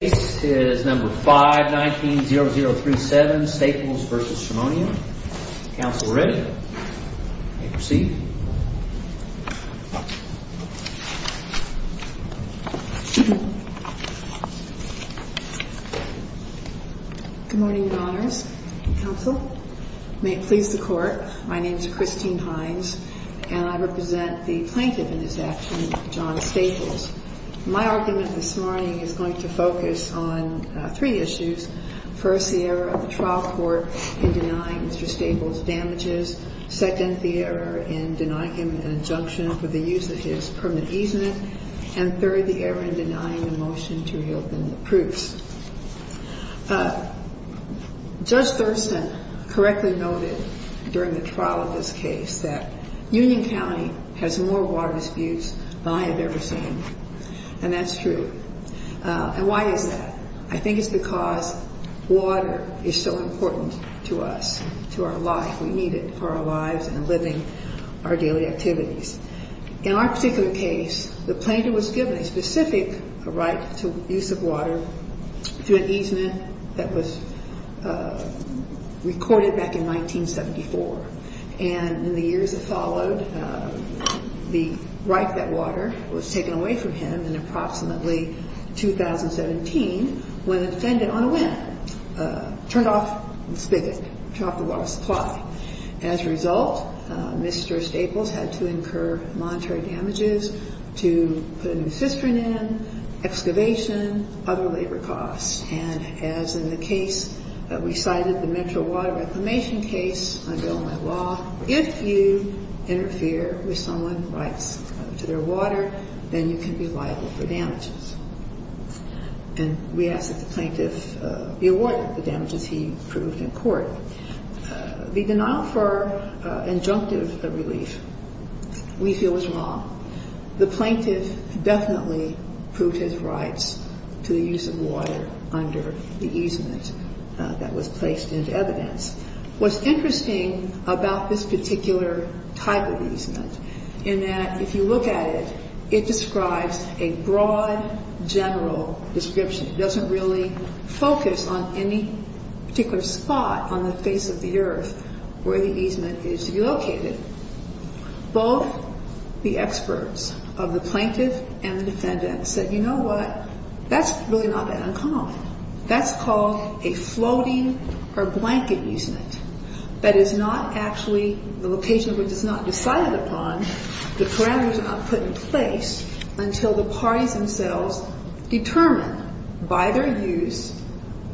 Case is number 519-0037, Staples v. Schemonia. Counsel ready? You may proceed. Good morning, Your Honors. Counsel, may it please the Court, my name is Christine Hines, and I represent the plaintiff in this action, John Staples. My argument this morning is going to focus on three issues. First, the error of the trial court in denying Mr. Staples damages. Second, the error in denying him an injunction for the use of his permit easement. And third, the error in denying the motion to reopen the proofs. Judge Thurston correctly noted during the trial of this case that Union County has more water disputes than I have ever seen, and that's true. And why is that? I think it's because water is so important to us, to our life. We need it for our lives and living our daily activities. In our particular case, the plaintiff was given a specific right to use of water through an easement that was recorded back in 1974. And in the years that followed, the right to that water was taken away from him in approximately 2017 when the defendant, on a whim, turned off the water supply. As a result, Mr. Staples had to incur monetary damages to put a new cistern in, excavation, other labor costs. And as in the case that we cited, the Metro Water Reclamation case, under my law, if you interfere with someone's rights to their water, then you can be liable for damages. And we ask that the plaintiff be awarded the damages he proved in court. The denial for injunctive relief we feel is wrong. The plaintiff definitely proved his rights to the use of water under the easement that was placed into evidence. What's interesting about this particular type of easement in that if you look at it, it describes a broad, general description. It doesn't really focus on any particular spot on the face of the earth where the easement is located. Both the experts of the plaintiff and the defendant said, you know what, that's really not that uncommon. That's called a floating or blanket easement. That is not actually the location which is not decided upon. The parameters are not put in place until the parties themselves determine by their use,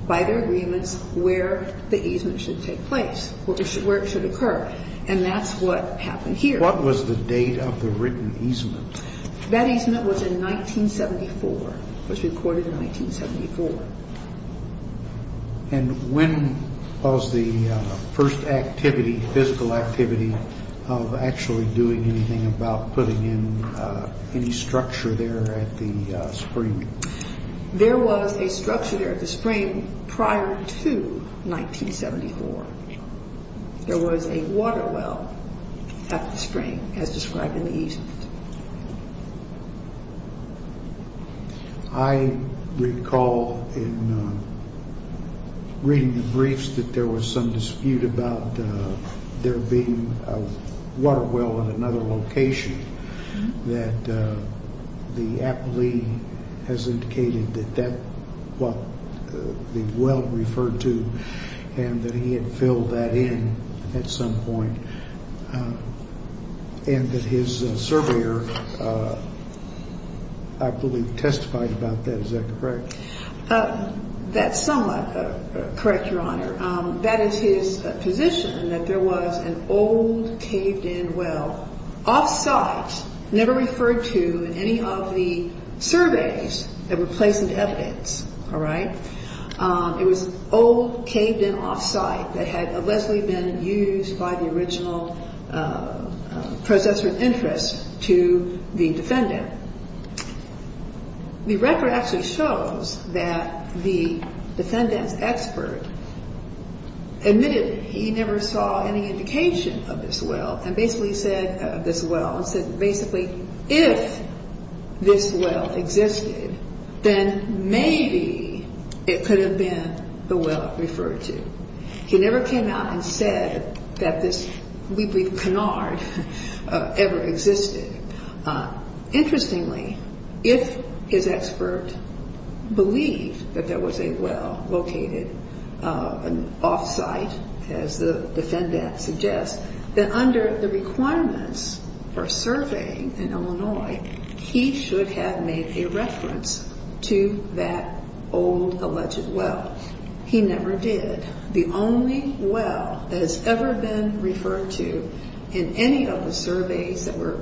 by their agreements, where the easement should take place, where it should occur. And that's what happened here. What was the date of the written easement? That easement was in 1974. It was recorded in 1974. And when was the first activity, physical activity of actually doing anything about putting in any structure there at the spring? There was a structure there at the spring prior to 1974. There was a water well at the spring as described in the easement. I recall in reading the briefs that there was some dispute about there being a water well at another location, that the appellee has indicated that that's what the well referred to and that he had filled that in at some point. And that his surveyor, I believe, testified about that. Is that correct? That's somewhat correct, Your Honor. That is his position, that there was an old, caved-in well off-site, never referred to in any of the surveys that were placed into evidence. All right? It was an old, caved-in off-site that had allegedly been used by the original processor of interest to the defendant. The record actually shows that the defendant's expert admitted he never saw any indication of this well, and basically said if this well existed, then maybe it could have been the well it referred to. He never came out and said that this, we believe, canard ever existed. Interestingly, if his expert believed that there was a well located off-site, as the defendant suggests, then under the requirements for surveying in Illinois, he should have made a reference to that old, alleged well. He never did. The only well that has ever been referred to in any of the surveys that were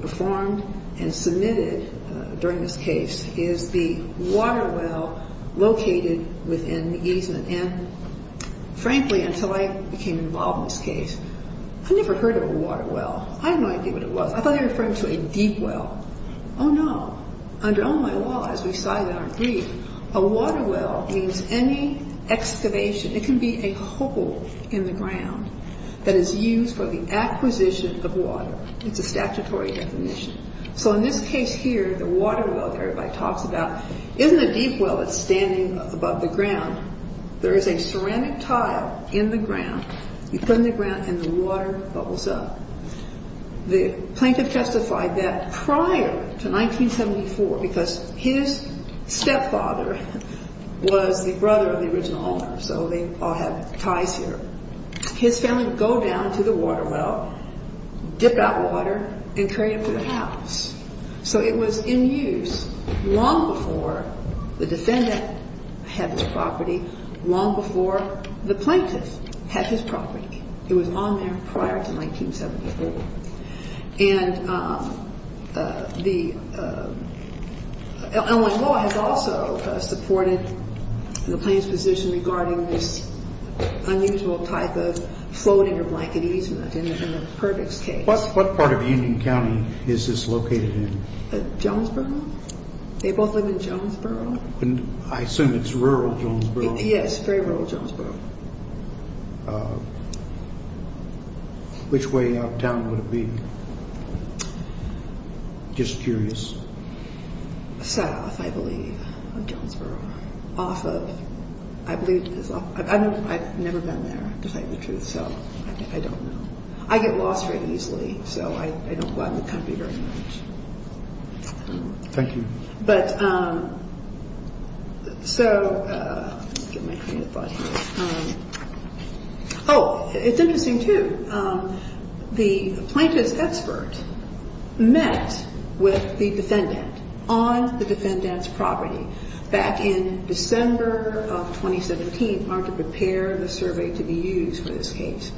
performed and submitted during this case is the water well located within the easement. And frankly, until I became involved in this case, I never heard of a water well. I had no idea what it was. I thought they were referring to a deep well. Oh, no. Under Illinois law, as we cited in our brief, a water well means any excavation. It can be a hole in the ground that is used for the acquisition of water. It's a statutory definition. So in this case here, the water well that everybody talks about isn't a deep well that's standing above the ground. There is a ceramic tile in the ground. You put it in the ground, and the water bubbles up. The plaintiff testified that prior to 1974, because his stepfather was the brother of the original owner, so they all have ties here, his family would go down to the water well, dip out water, and carry it to the house. So it was in use long before the defendant had the property, long before the plaintiff had his property. It was on there prior to 1974. And Illinois law has also supported the plaintiff's position regarding this unusual type of floating or blanket easement in the Purdick's case. What part of Union County is this located in? Jonesboro. They both live in Jonesboro? I assume it's rural Jonesboro. Yes, very rural Jonesboro. Which way out of town would it be? Just curious. South, I believe, of Jonesboro. I've never been there, to tell you the truth, so I don't know. I get lost very easily, so I don't go out in the country very much. Thank you. But, so, oh, it's interesting, too. The plaintiff's expert met with the defendant on the defendant's property back in December of 2017, in order to prepare the survey to be used for this case.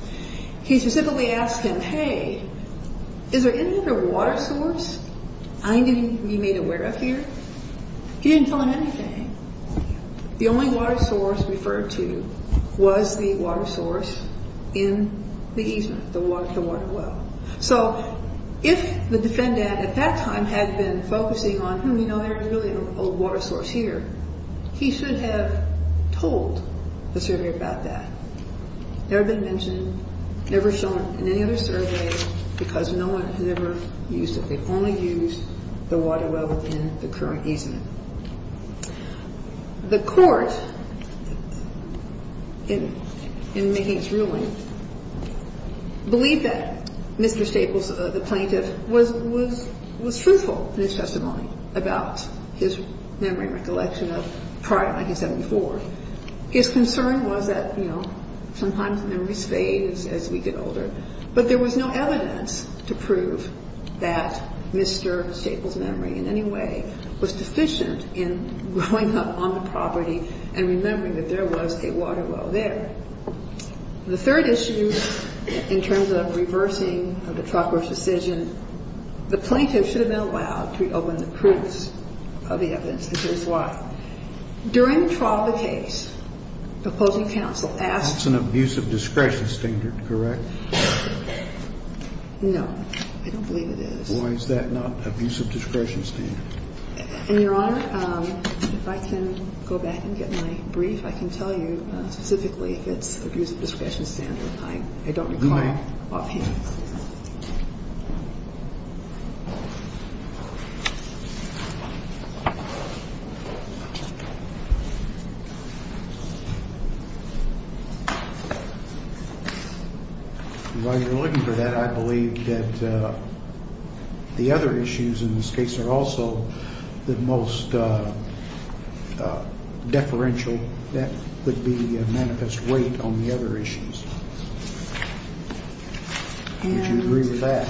He specifically asked him, hey, is there any other water source I need to be made aware of here? He didn't tell him anything. The only water source referred to was the water source in the easement, the water well. So if the defendant at that time had been focusing on, hmm, you know, there's really an old water source here, he should have told the surveyor about that. Never been mentioned, never shown in any other survey, because no one ever used it. They've only used the water well in the current easement. The court, in making its ruling, believed that Mr. Staples, the plaintiff, was truthful in his testimony about his memory and recollection of prior to 1974. His concern was that, you know, sometimes memories fade as we get older. But there was no evidence to prove that Mr. Staples' memory in any way was deficient in growing up on the property and remembering that there was a water well there. The third issue, in terms of reversing the Trotter's decision, the plaintiff should have been allowed to reopen the proofs of the evidence. And here's why. During the trial, the case, the opposing counsel asked... That's an abuse of discretion standard, correct? No. I don't believe it is. Why is that not abuse of discretion standard? And, Your Honor, if I can go back and get my brief, I can tell you specifically if it's abuse of discretion standard. I don't require opinions. You may. And while you're looking for that, I believe that the other issues in this case are also the most deferential. That would be a manifest weight on the other issues. And... Would you agree with that?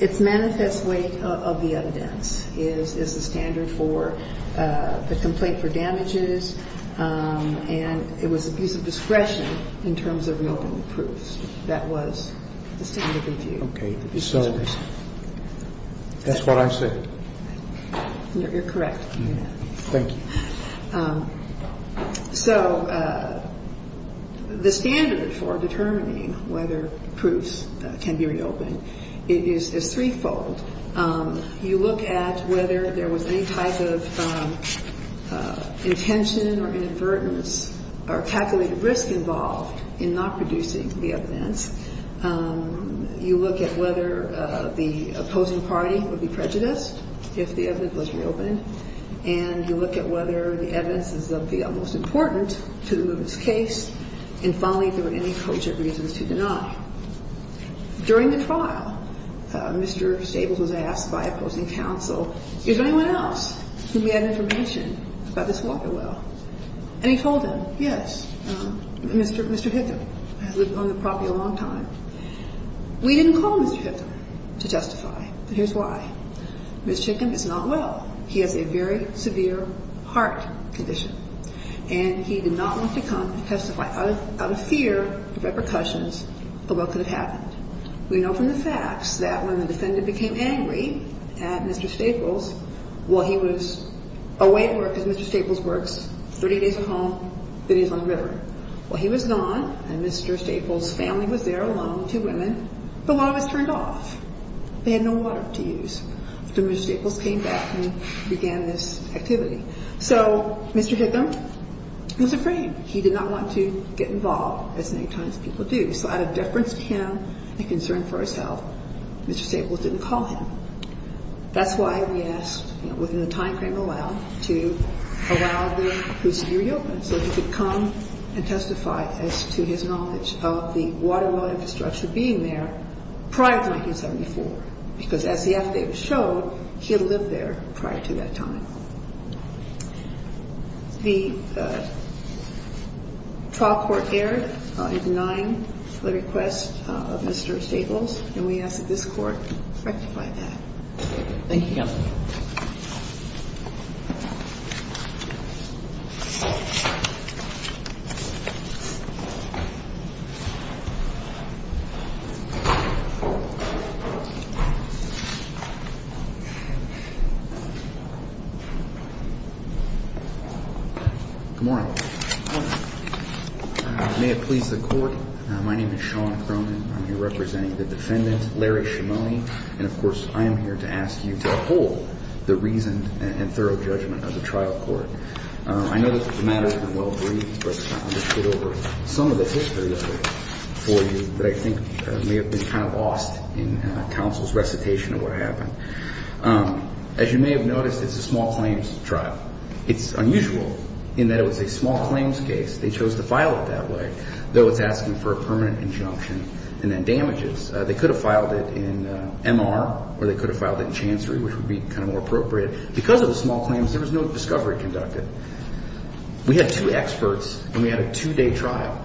It's manifest weight of the evidence is the standard for the complaint for damages, and it was abuse of discretion in terms of reopening the proofs. That was the standard of review. Okay. So that's what I said. You're correct. You're correct. Okay. Thank you. So the standard for determining whether proofs can be reopened is threefold. You look at whether there was any type of intention or inadvertence or calculated risk involved in not producing the evidence. You look at whether the opposing party would be prejudiced if the evidence was reopened. And you look at whether the evidence is of the utmost importance to remove this case. And finally, if there were any cogent reasons to deny. During the trial, Mr. Stables was asked by opposing counsel, is there anyone else who may have information about this water well? And he told them, yes, Mr. Hitham has lived on the property a long time. We didn't call Mr. Hitham to justify, but here's why. Mr. Hitham is not well. He has a very severe heart condition. And he did not want to come to testify out of fear of repercussions of what could have happened. We know from the facts that when the defendant became angry at Mr. Stables, well, he was away at work, as Mr. Stables works, 30 days a month, that he's on the river. Well, he was gone, and Mr. Stables' family was there, along with two women. The water was turned off. They had no water to use. So Mr. Stables came back and began this activity. So Mr. Hitham was afraid. He did not want to get involved, as many times people do. So out of deference to him and concern for himself, Mr. Stables didn't call him. That's why we asked, within the time frame allowed, to allow the proceeding to be reopened so he could come and testify as to his knowledge of the water well infrastructure being there prior to 1974. Because as the affidavit showed, he had lived there prior to that time. The trial court erred in denying the request of Mr. Stables, and we ask that this Court rectify that. Thank you, Counsel. Good morning. Good morning. May it please the Court, my name is Sean Croman. I'm here representing the defendant, Larry Shimoni. And, of course, I am here to ask you to uphold the reason and thorough judgment of the trial court. I know this is a matter that's been well-breathed, but I'm going to skit over some of the history of it for you and give you a recitation of what happened. As you may have noticed, it's a small claims trial. It's unusual in that it was a small claims case. They chose to file it that way, though it's asking for a permanent injunction and then damages. They could have filed it in MR, or they could have filed it in Chancery, which would be kind of more appropriate. Because of the small claims, there was no discovery conducted. We had two experts, and we had a two-day trial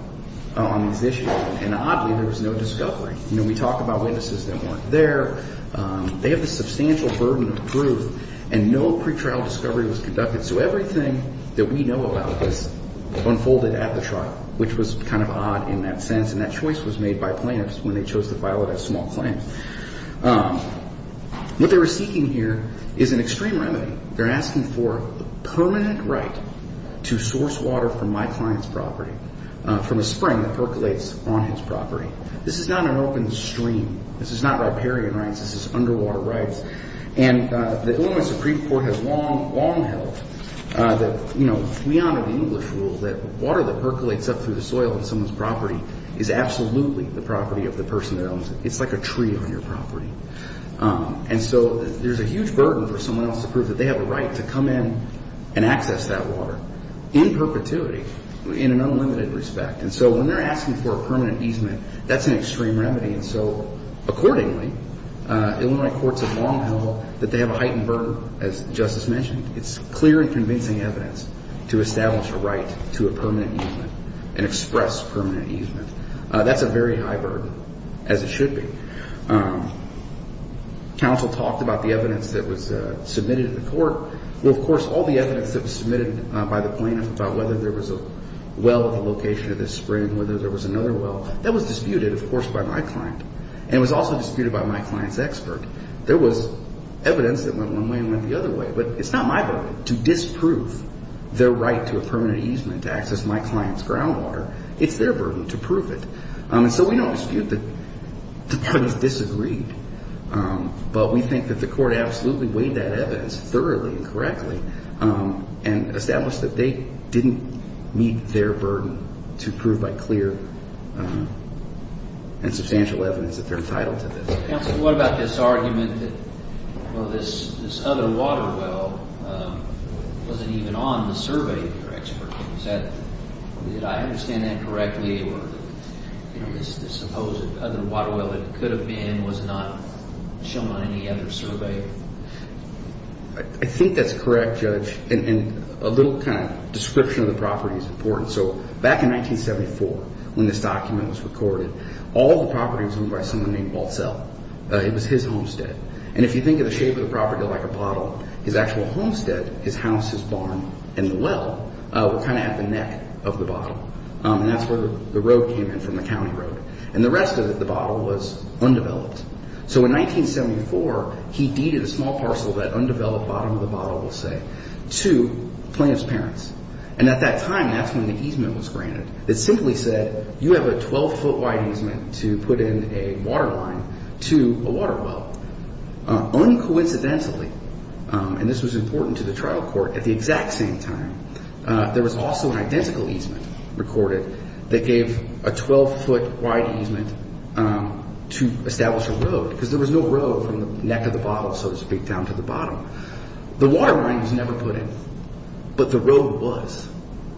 on these issues, and, oddly, there was no discovery. We talk about witnesses that weren't there. They have a substantial burden of proof, and no pretrial discovery was conducted. So everything that we know about this unfolded at the trial, which was kind of odd in that sense. And that choice was made by plaintiffs when they chose to file it as small claims. What they were seeking here is an extreme remedy. They're asking for a permanent right to source water from my client's property, from a spring that percolates on his property. This is not an open stream. This is not riparian rights. This is underwater rights. And the Illinois Supreme Court has long held that, you know, we honor the English rule that water that percolates up through the soil of someone's property is absolutely the property of the person that owns it. It's like a tree on your property. And so there's a huge burden for someone else to prove that they have a right to come in and access that water in perpetuity, in an unlimited respect. And so when they're asking for a permanent easement, that's an extreme remedy. And so accordingly, Illinois courts have long held that they have a heightened burden, as Justice mentioned. It's clear and convincing evidence to establish a right to a permanent easement and express permanent easement. That's a very high burden, as it should be. Counsel talked about the evidence that was submitted to the court. Well, of course, all the evidence that was submitted by the plaintiff about whether there was a well at the location of this spring, whether there was another well, that was disputed, of course, by my client. And it was also disputed by my client's expert. There was evidence that went one way and went the other way. But it's not my burden to disprove their right to a permanent easement to access my client's groundwater. It's their burden to prove it. And so we don't dispute that the parties disagreed. But we think that the court absolutely weighed that evidence thoroughly and correctly and established that they didn't meet their burden to prove by clear and substantial evidence that they're entitled to this. Counsel, what about this argument that, well, this other water well wasn't even on the survey of your expert? Did I understand that correctly where this supposed other water well that could have been was not shown on any other survey? I think that's correct, Judge. And a little kind of description of the property is important. So back in 1974, when this document was recorded, all the property was owned by someone named Waltzell. It was his homestead. And if you think of the shape of the property like a bottle, his actual homestead, his house, his barn, and the well were kind of at the neck of the bottle. And that's where the road came in from, the county road. And the rest of the bottle was undeveloped. So in 1974, he deeded a small parcel of that undeveloped bottom of the bottle, we'll say, to plaintiff's parents. And at that time, that's when the easement was granted. It simply said, you have a 12-foot wide easement to put in a water line to a water well. Uncoincidentally, and this was important to the trial court, at the exact same time, there was also an identical easement recorded that gave a 12-foot wide easement to establish a road. Because there was no road from the neck of the bottle, so to speak, down to the bottom. The water line was never put in. But the road was.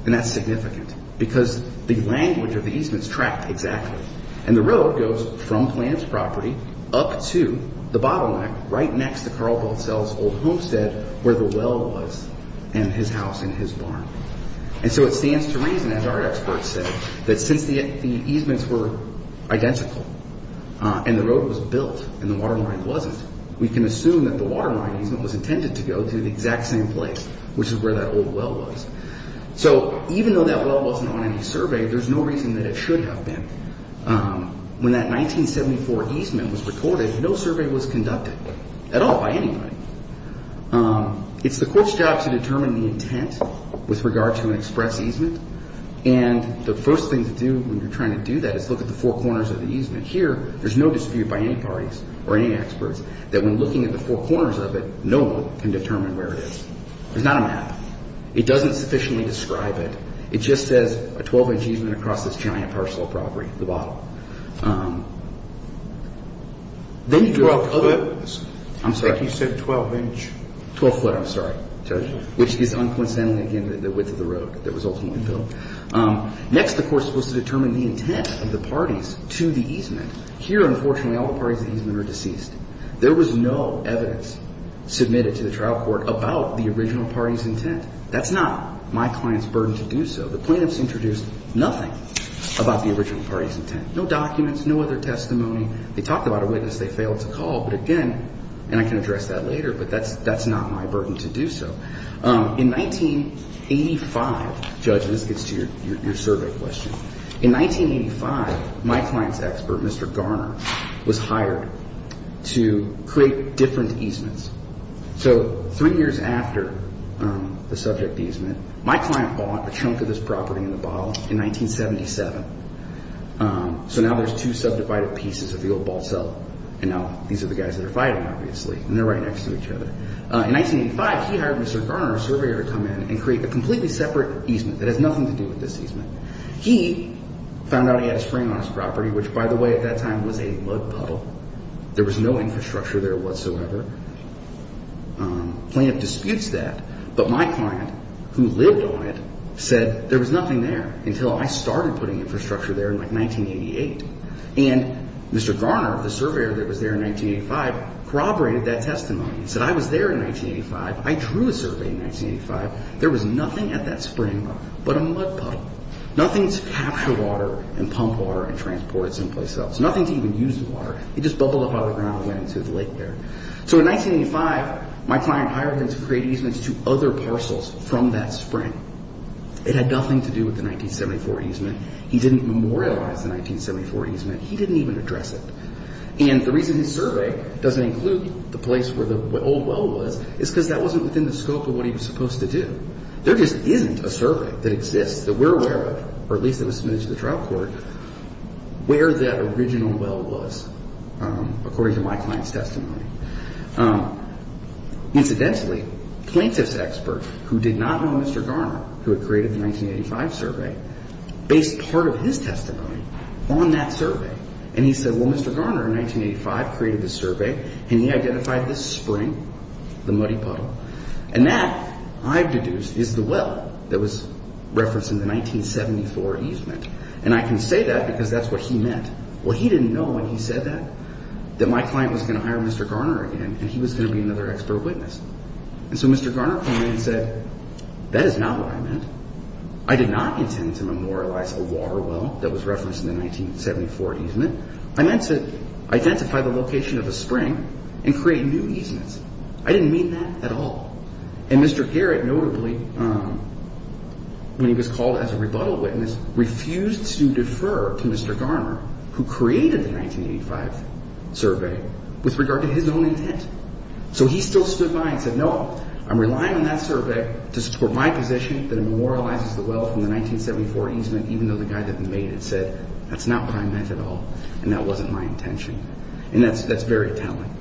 And that's significant. Because the language of the easement is tracked exactly. And the road goes from plaintiff's property up to the bottleneck right next to Carlebelt Sells' old homestead where the well was and his house and his barn. And so it stands to reason, as our experts say, that since the easements were identical and the road was built and the water line wasn't, we can assume that the water line easement was intended to go to the exact same place, which is where that old well was. So even though that well wasn't on any survey, there's no reason that it should have been. When that 1974 easement was recorded, no survey was conducted at all by anybody. It's the court's job to determine the intent with regard to an express easement. And the first thing to do when you're trying to do that is look at the four corners of the easement. Here, there's no dispute by any parties or any experts that when looking at the four corners of it, no one can determine where it is. There's not a map. It doesn't sufficiently describe it. It just says a 12-inch easement across this giant parcel of property at the bottom. Then you draw up other ones. I'm sorry. He said 12-inch. 12-foot. I'm sorry. Which is uncoincidentally, again, the width of the road that was ultimately built. Next, the court is supposed to determine the intent of the parties to the easement. Here, unfortunately, all the parties to the easement are deceased. There was no evidence submitted to the trial court about the original party's intent. That's not my client's burden to do so. The plaintiffs introduced nothing about the original party's intent. No documents. No other testimony. They talked about a witness. They failed to call. But again, and I can address that later, but that's not my burden to do so. In 1985, Judge, and this gets to your survey question, in 1985, my client's expert, Mr. Garner, was hired to create different easements. Three years after the subject easement, my client bought a chunk of this property in the bottle in 1977. Now there's two subdivided pieces of the old ball cell. Now these are the guys that are fighting, obviously. They're right next to each other. In 1985, he hired Mr. Garner, a surveyor, to come in and create a completely separate easement that has nothing to do with this easement. He found out he had a spring on his property, which, by the way, at that time was a mud puddle. There was no infrastructure there whatsoever. The plaintiff disputes that. But my client, who lived on it, said there was nothing there until I started putting infrastructure there in like 1988. And Mr. Garner, the surveyor that was there in 1985, corroborated that testimony. He said, I was there in 1985. I drew a survey in 1985. There was nothing at that spring but a mud puddle. Nothing to capture water and pump water and transport it someplace else. Nothing to even use the water. It just bubbled up out of the ground and went into the lake there. So in 1985, my client hired him to create easements to other parcels from that spring. It had nothing to do with the 1974 easement. He didn't memorialize the 1974 easement. He didn't even address it. And the reason his survey doesn't include the place where the old well was is because that wasn't within the scope of what he was supposed to do. There just isn't a survey that exists that we're aware of, or at least that was submitted to the trial court, where that original well was, according to my client's testimony. Incidentally, the plaintiff's expert, who did not know Mr. Garner, who had created the 1985 survey, based part of his testimony on that survey. And he said, well, Mr. Garner, in 1985, created the survey. And he identified this spring, the muddy puddle. And that, I've deduced, is the well that was referenced in the 1974 easement. And I can say that because that's what he meant. Well, he didn't know when he said that, that my client was going to hire Mr. Garner again, and he was going to be another expert witness. And so Mr. Garner called me and said, that is not what I meant. I did not intend to memorialize a water well that was referenced in the 1974 easement. I meant to identify the location of a spring and create new easements. I didn't mean that at all. And Mr. Garrett, notably, when he was called as a rebuttal witness, refused to defer to Mr. Garner, who created the 1985 survey, with regard to his own intent. So he still stood by and said, no, I'm relying on that survey to support my position that it memorializes the well from the 1974 easement, even though the guy that made it said, that's not what I meant at all. And that wasn't my intention. And that's very telling.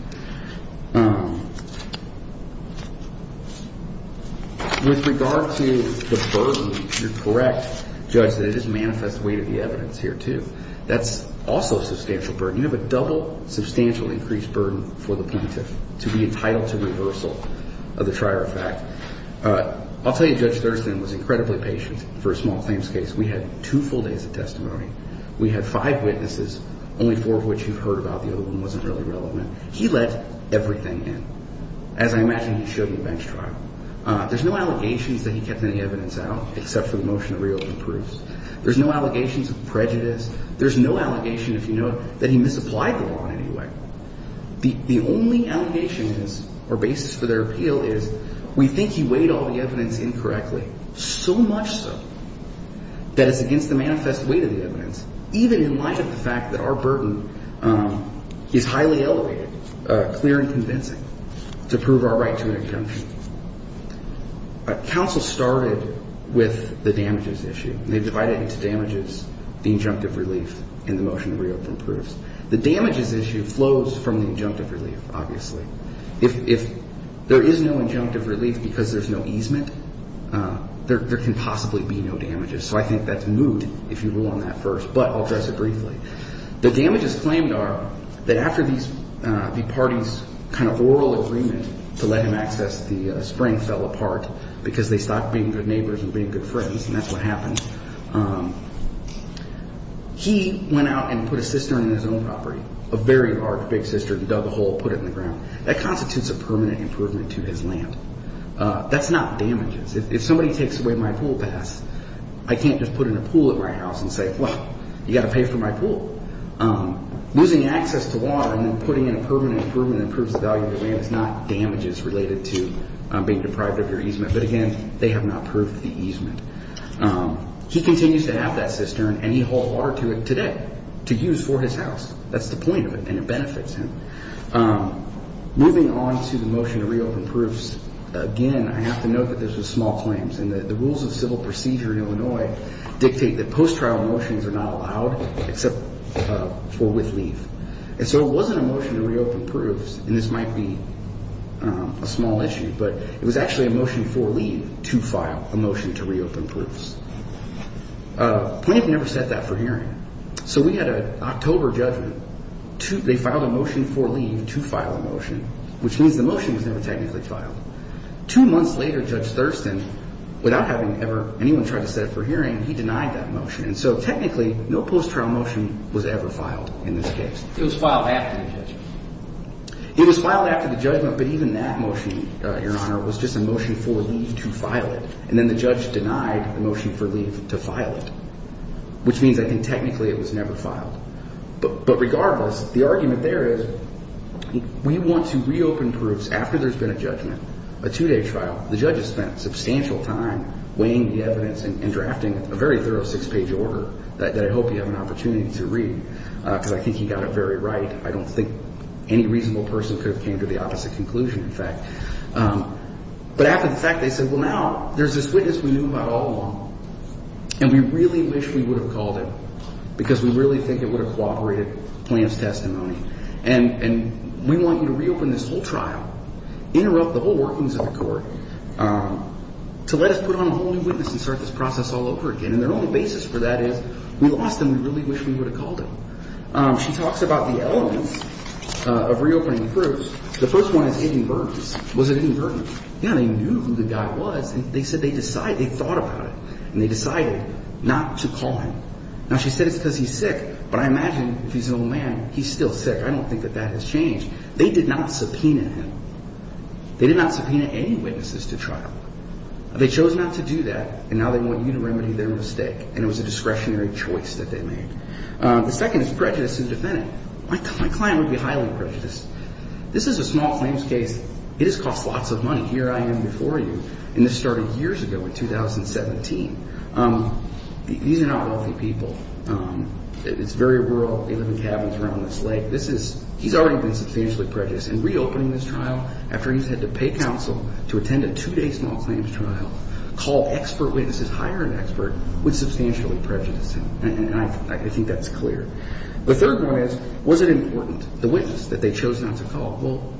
With regard to the burden, you're correct, Judge, that it is manifest weight of the evidence here too. That's also substantial burden. You have a double substantial increased burden for the plaintiff to be entitled to reversal of the trier of fact. I'll tell you, Judge Thurston was incredibly patient for a small claims case. We had two full days of testimony. We had five witnesses, only four of which you've heard about. The other one wasn't really relevant. He let everything in. As I imagine he should in a bench trial. There's no allegations that he kept any evidence out, except for the motion to reopen proofs. There's no allegations of prejudice. There's no allegation, if you know it, that he misapplied the law in any way. The only allegation or basis for their appeal is, we think he weighed all the evidence incorrectly. So much so that it's against the manifest weight of the evidence, even in light of the fact that our burden is highly elevated, clear and convincing, to prove our right to an injunction. Counsel started with the damages issue. They divided it into damages, the injunctive relief, and the motion to reopen proofs. The damages issue flows from the injunctive relief, obviously. If there is no injunctive relief because there's no easement, there can possibly be no damages. So I think that's moot, if you rule on that first. But I'll address it briefly. The damages claimed are that after the party's kind of oral agreement to let him access the spring fell apart, because they stopped being good neighbors and being good friends, and that's what happened. He went out and put a cistern in his own property. A very large big cistern, dug a hole, put it in the ground. That constitutes a permanent improvement to his land. That's not damages. If somebody takes away my pool pass, I can't just put in a pool at my house and say, well, you've got to pay for my pool. Losing access to water and then putting in a permanent improvement that improves the value of the land is not damages related to being deprived of your easement. But again, they have not proved the easement. He continues to have that cistern, and he hauled water to it today to use for his house. That's the point of it, and it benefits him. Moving on to the motion to reopen proofs. Again, I have to note that this was small claims, and the rules of civil procedure in Illinois dictate that post-trial motions are not allowed except for with leave. And so it wasn't a motion to reopen proofs, and this might be a small issue, but it was actually a motion for leave to file a motion to reopen proofs. Plaintiff never said that for hearing. So we had an October judgment. They filed a motion for leave to file a motion, which means the motion was never technically filed. Two months later, Judge Thurston, without having ever anyone try to set it for hearing, he denied that motion. And so technically, no post-trial motion was ever filed in this case. It was filed after the judgment. It was filed after the judgment, but even that motion, Your Honor, was just a motion for leave to file it. And then the judge denied the motion for leave to file it, which means I think technically it was never filed. But regardless, the argument there is we want to reopen proofs after there's been a judgment, a two-day trial. The judges spent substantial time weighing the evidence and drafting a very thorough six-page order that I hope you have an opportunity to read, because I think he got it very right. I don't think any reasonable person could have came to the opposite conclusion, in fact. But after the fact, they said, well, now there's this witness we knew about all along, and we really wish we would have called him, because we really think it would have cooperated with the plaintiff's testimony. And we want you to reopen this whole trial, interrupt the whole workings of the court, to let us put on a whole new witness and start this process all over again. And their only basis for that is we lost him. We really wish we would have called him. She talks about the elements of reopening the proofs. The first one is hidden burdens. Was it hidden burdens? Yeah, they knew who the guy was. They said they decided. They thought about it. And they decided not to call him. Now, she said it's because he's sick. But I imagine if he's an old man, he's still sick. I don't think that that has changed. They did not subpoena him. They did not subpoena any witnesses to trial. They chose not to do that, and now they want you to remedy their mistake. And it was a discretionary choice that they made. The second is prejudice in the defendant. My client would be highly prejudiced. This is a small claims case. It has cost lots of money. Here I am before you. And this started years ago in 2017. These are not wealthy people. It's very rural. They live in cabins around this lake. He's already been substantially prejudiced. And reopening this trial after he's had to pay counsel to attend a two-day small claims trial, call expert witnesses, hire an expert, would substantially prejudice him. And I think that's clear. The third one is was it important? The witness that they chose not to call. Well,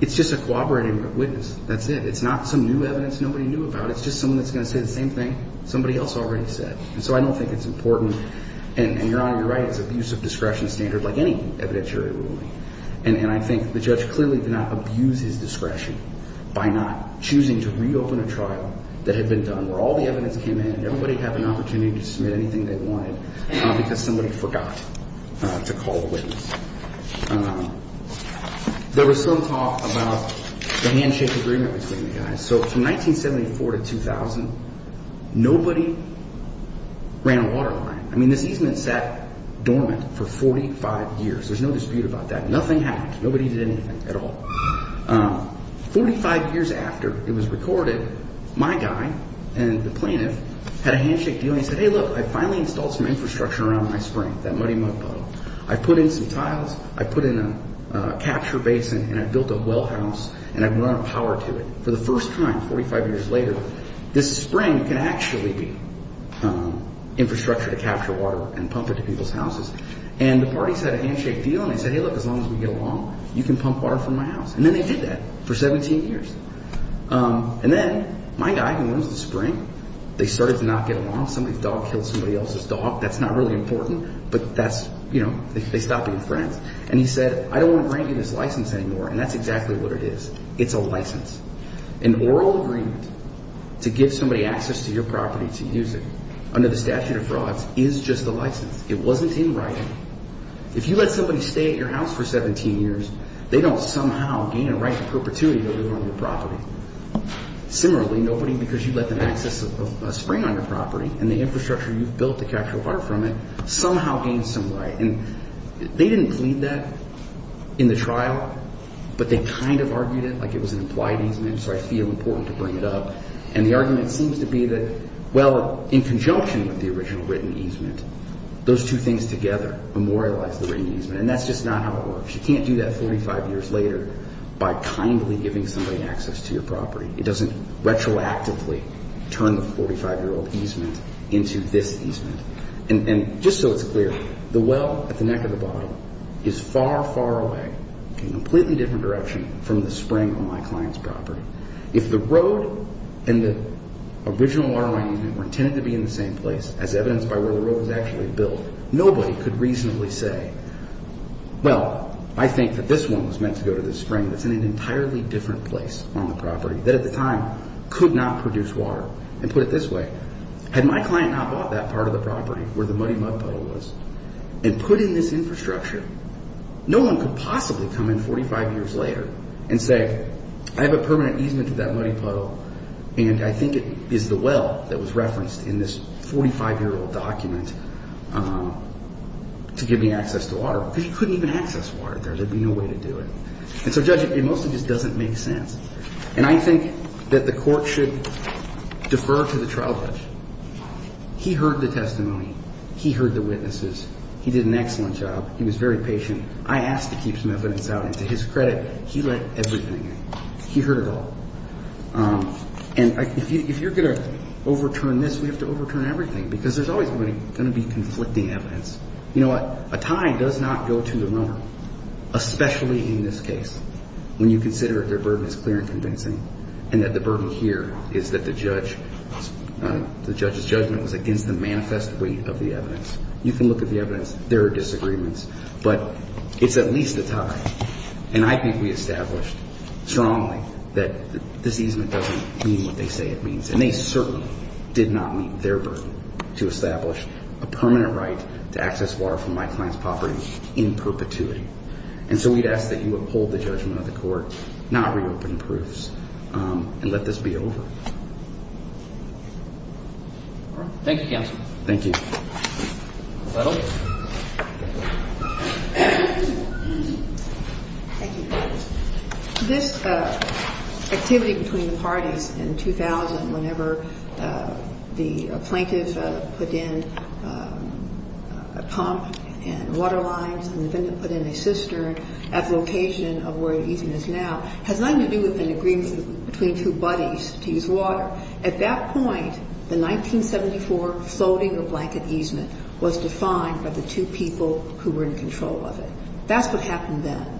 it's just a corroborating witness. That's it. It's not some new evidence nobody knew about. It's just someone that's going to say the same thing somebody else already said. And so I don't think it's important. And Your Honor, you're right. It's abuse of discretion standard like any evidentiary ruling. And I think the judge clearly did not abuse his discretion by not choosing to reopen a trial that had been done, where all the evidence came in and everybody had an opportunity to submit anything they wanted because somebody forgot to call a witness. There was some talk about the handshake agreement between the guys. So from 1974 to 2000, nobody ran a water line. I mean, this easement sat dormant for 45 years. There's no dispute about that. Nothing happened. Nobody did anything at all. Forty-five years after it was recorded, my guy and the plaintiff had a handshake deal. He said, hey, look, I finally installed some infrastructure around my spring, that muddy mud puddle. I put in some tiles. I put in a capture basin, and I built a well house, and I brought power to it. For the first time, 45 years later, this spring can actually be infrastructure to capture water and pump it to people's houses. And the parties had a handshake deal, and they said, hey, look, as long as we get along, you can pump water from my house. And then they did that for 17 years. And then my guy, who owns the spring, they started to not get along. Somebody's dog killed somebody else's dog. That's not really important, but that's, you know, they stopped being friends. And he said, I don't want to grant you this license anymore. And that's exactly what it is. It's a license. An oral agreement to give somebody access to your property to use it under the statute of frauds is just a license. It wasn't in writing. If you let somebody stay at your house for 17 years, they don't somehow gain a right to perpetuity to live on your property. Similarly, nobody, because you let them access a spring on your property and the infrastructure you've built to capture water from it, somehow gains some right. And they didn't plead that in the trial, but they kind of argued it like it was an implied easement, so I feel important to bring it up. And the argument seems to be that, well, in conjunction with the original written easement, those two things together memorialize the written easement. And that's just not how it works. You can't do that 45 years later by kindly giving somebody access to your property. It doesn't retroactively turn the 45-year-old easement into this easement. And just so it's clear, the well at the neck of the bottle is far, far away, a completely different direction from the spring on my client's property. If the road and the original waterline easement were intended to be in the same place, as evidenced by where the road was actually built, nobody could reasonably say, well, I think that this one was meant to go to the spring that's in an entirely different place on the property, that at the time could not produce water, and put it this way. Had my client not bought that part of the property where the muddy mud puddle was and put in this infrastructure, no one could possibly come in 45 years later and say, I have a permanent easement to that muddy puddle, and I think it is the well that was referenced in this 45-year-old document to give me access to water. Because you couldn't even access water there. There'd be no way to do it. And so, Judge, it mostly just doesn't make sense. And I think that the court should defer to the trial judge. He heard the testimony. He heard the witnesses. He did an excellent job. He was very patient. I asked to keep some evidence out, and to his credit, he let everything in. He heard it all. And if you're going to overturn this, we have to overturn everything, because there's always going to be conflicting evidence. You know what? A tie does not go to the norm, especially in this case, when you consider that their burden is clear and convincing, and that the burden here is that the judge's judgment was against the manifest weight of the evidence. You can look at the evidence. There are disagreements. But it's at least a tie. And I think we established strongly that this easement doesn't mean what they say it means. And they certainly did not meet their burden to establish a permanent right to access water from my client's property in perpetuity. And so we'd ask that you uphold the judgment of the court, not reopen proofs, and let this be over. Thank you, counsel. Thank you. Thank you. This activity between the parties in 2000, whenever the plaintiff put in a pump and water lines and the defendant put in a cistern at the location of where the easement is now, has nothing to do with an agreement between two buddies to use water. At that point, the 1974 floating or blanket easement was defined by the two people who were in control of it. That's what happened then.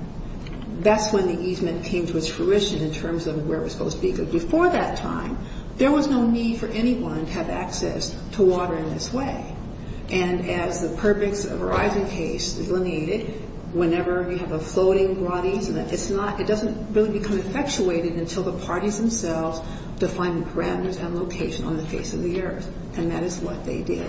That's when the easement came to its fruition in terms of where it was supposed to be. Because before that time, there was no need for anyone to have access to water in this way. And as the Perpix and Verizon case delineated, whenever you have a floating broad easement, it doesn't really become effectuated until the parties themselves define the parameters and location on the face of the earth. And that is what they did.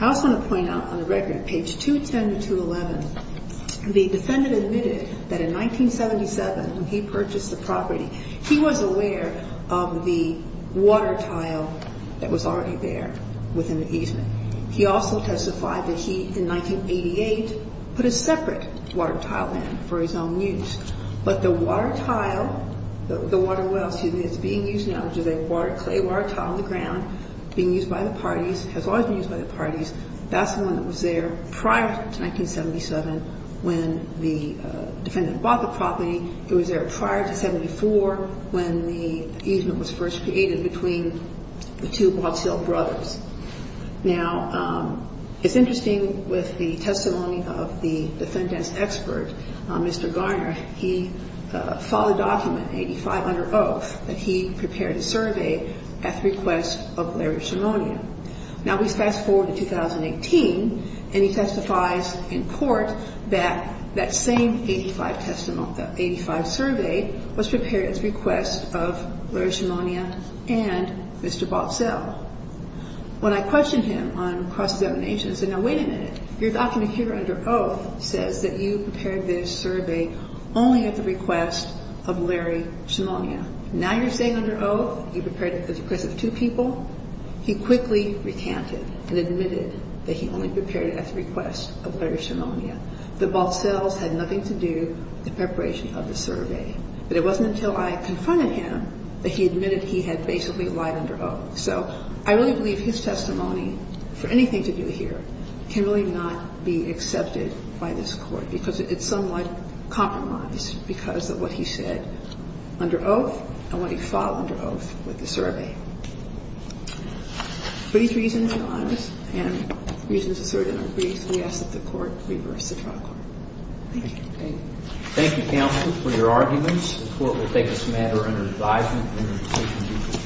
I also want to point out on the record, page 210 to 211, the defendant admitted that in 1977, when he purchased the property, he was aware of the water tile that was already there within the easement. He also testified that he, in 1988, put a separate water tile in for his own use. But the water tile, the water well, excuse me, that's being used now, which is a water, a water tile on the ground being used by the parties, has always been used by the parties, that's the one that was there prior to 1977 when the defendant bought the property. It was there prior to 74 when the easement was first created between the two Watts Hill brothers. Now, it's interesting with the testimony of the defendant's expert, Mr. Garner. He filed a document, 85 under oath, that he prepared a survey at the request of Larry Shimonia. Now, we fast forward to 2018, and he testifies in court that that same 85 testimony, that 85 survey was prepared at the request of Larry Shimonia and Mr. Watts Hill. When I questioned him on cross-examination, I said, now wait a minute. Your document here under oath says that you prepared this survey only at the request of Larry Shimonia. Now you're saying under oath you prepared it at the request of two people? He quickly recanted and admitted that he only prepared it at the request of Larry Shimonia, that both cells had nothing to do with the preparation of the survey. But it wasn't until I confronted him that he admitted he had basically lied under oath. So I really believe his testimony, for anything to do here, can really not be accepted by this court because it's somewhat compromised because of what he said under oath and what he filed under oath with the survey. With these reasons and reasons asserted in our briefs, we ask that the court reverse the trial court. Thank you. Thank you, counsel, for your arguments. The court will take this matter under advisement.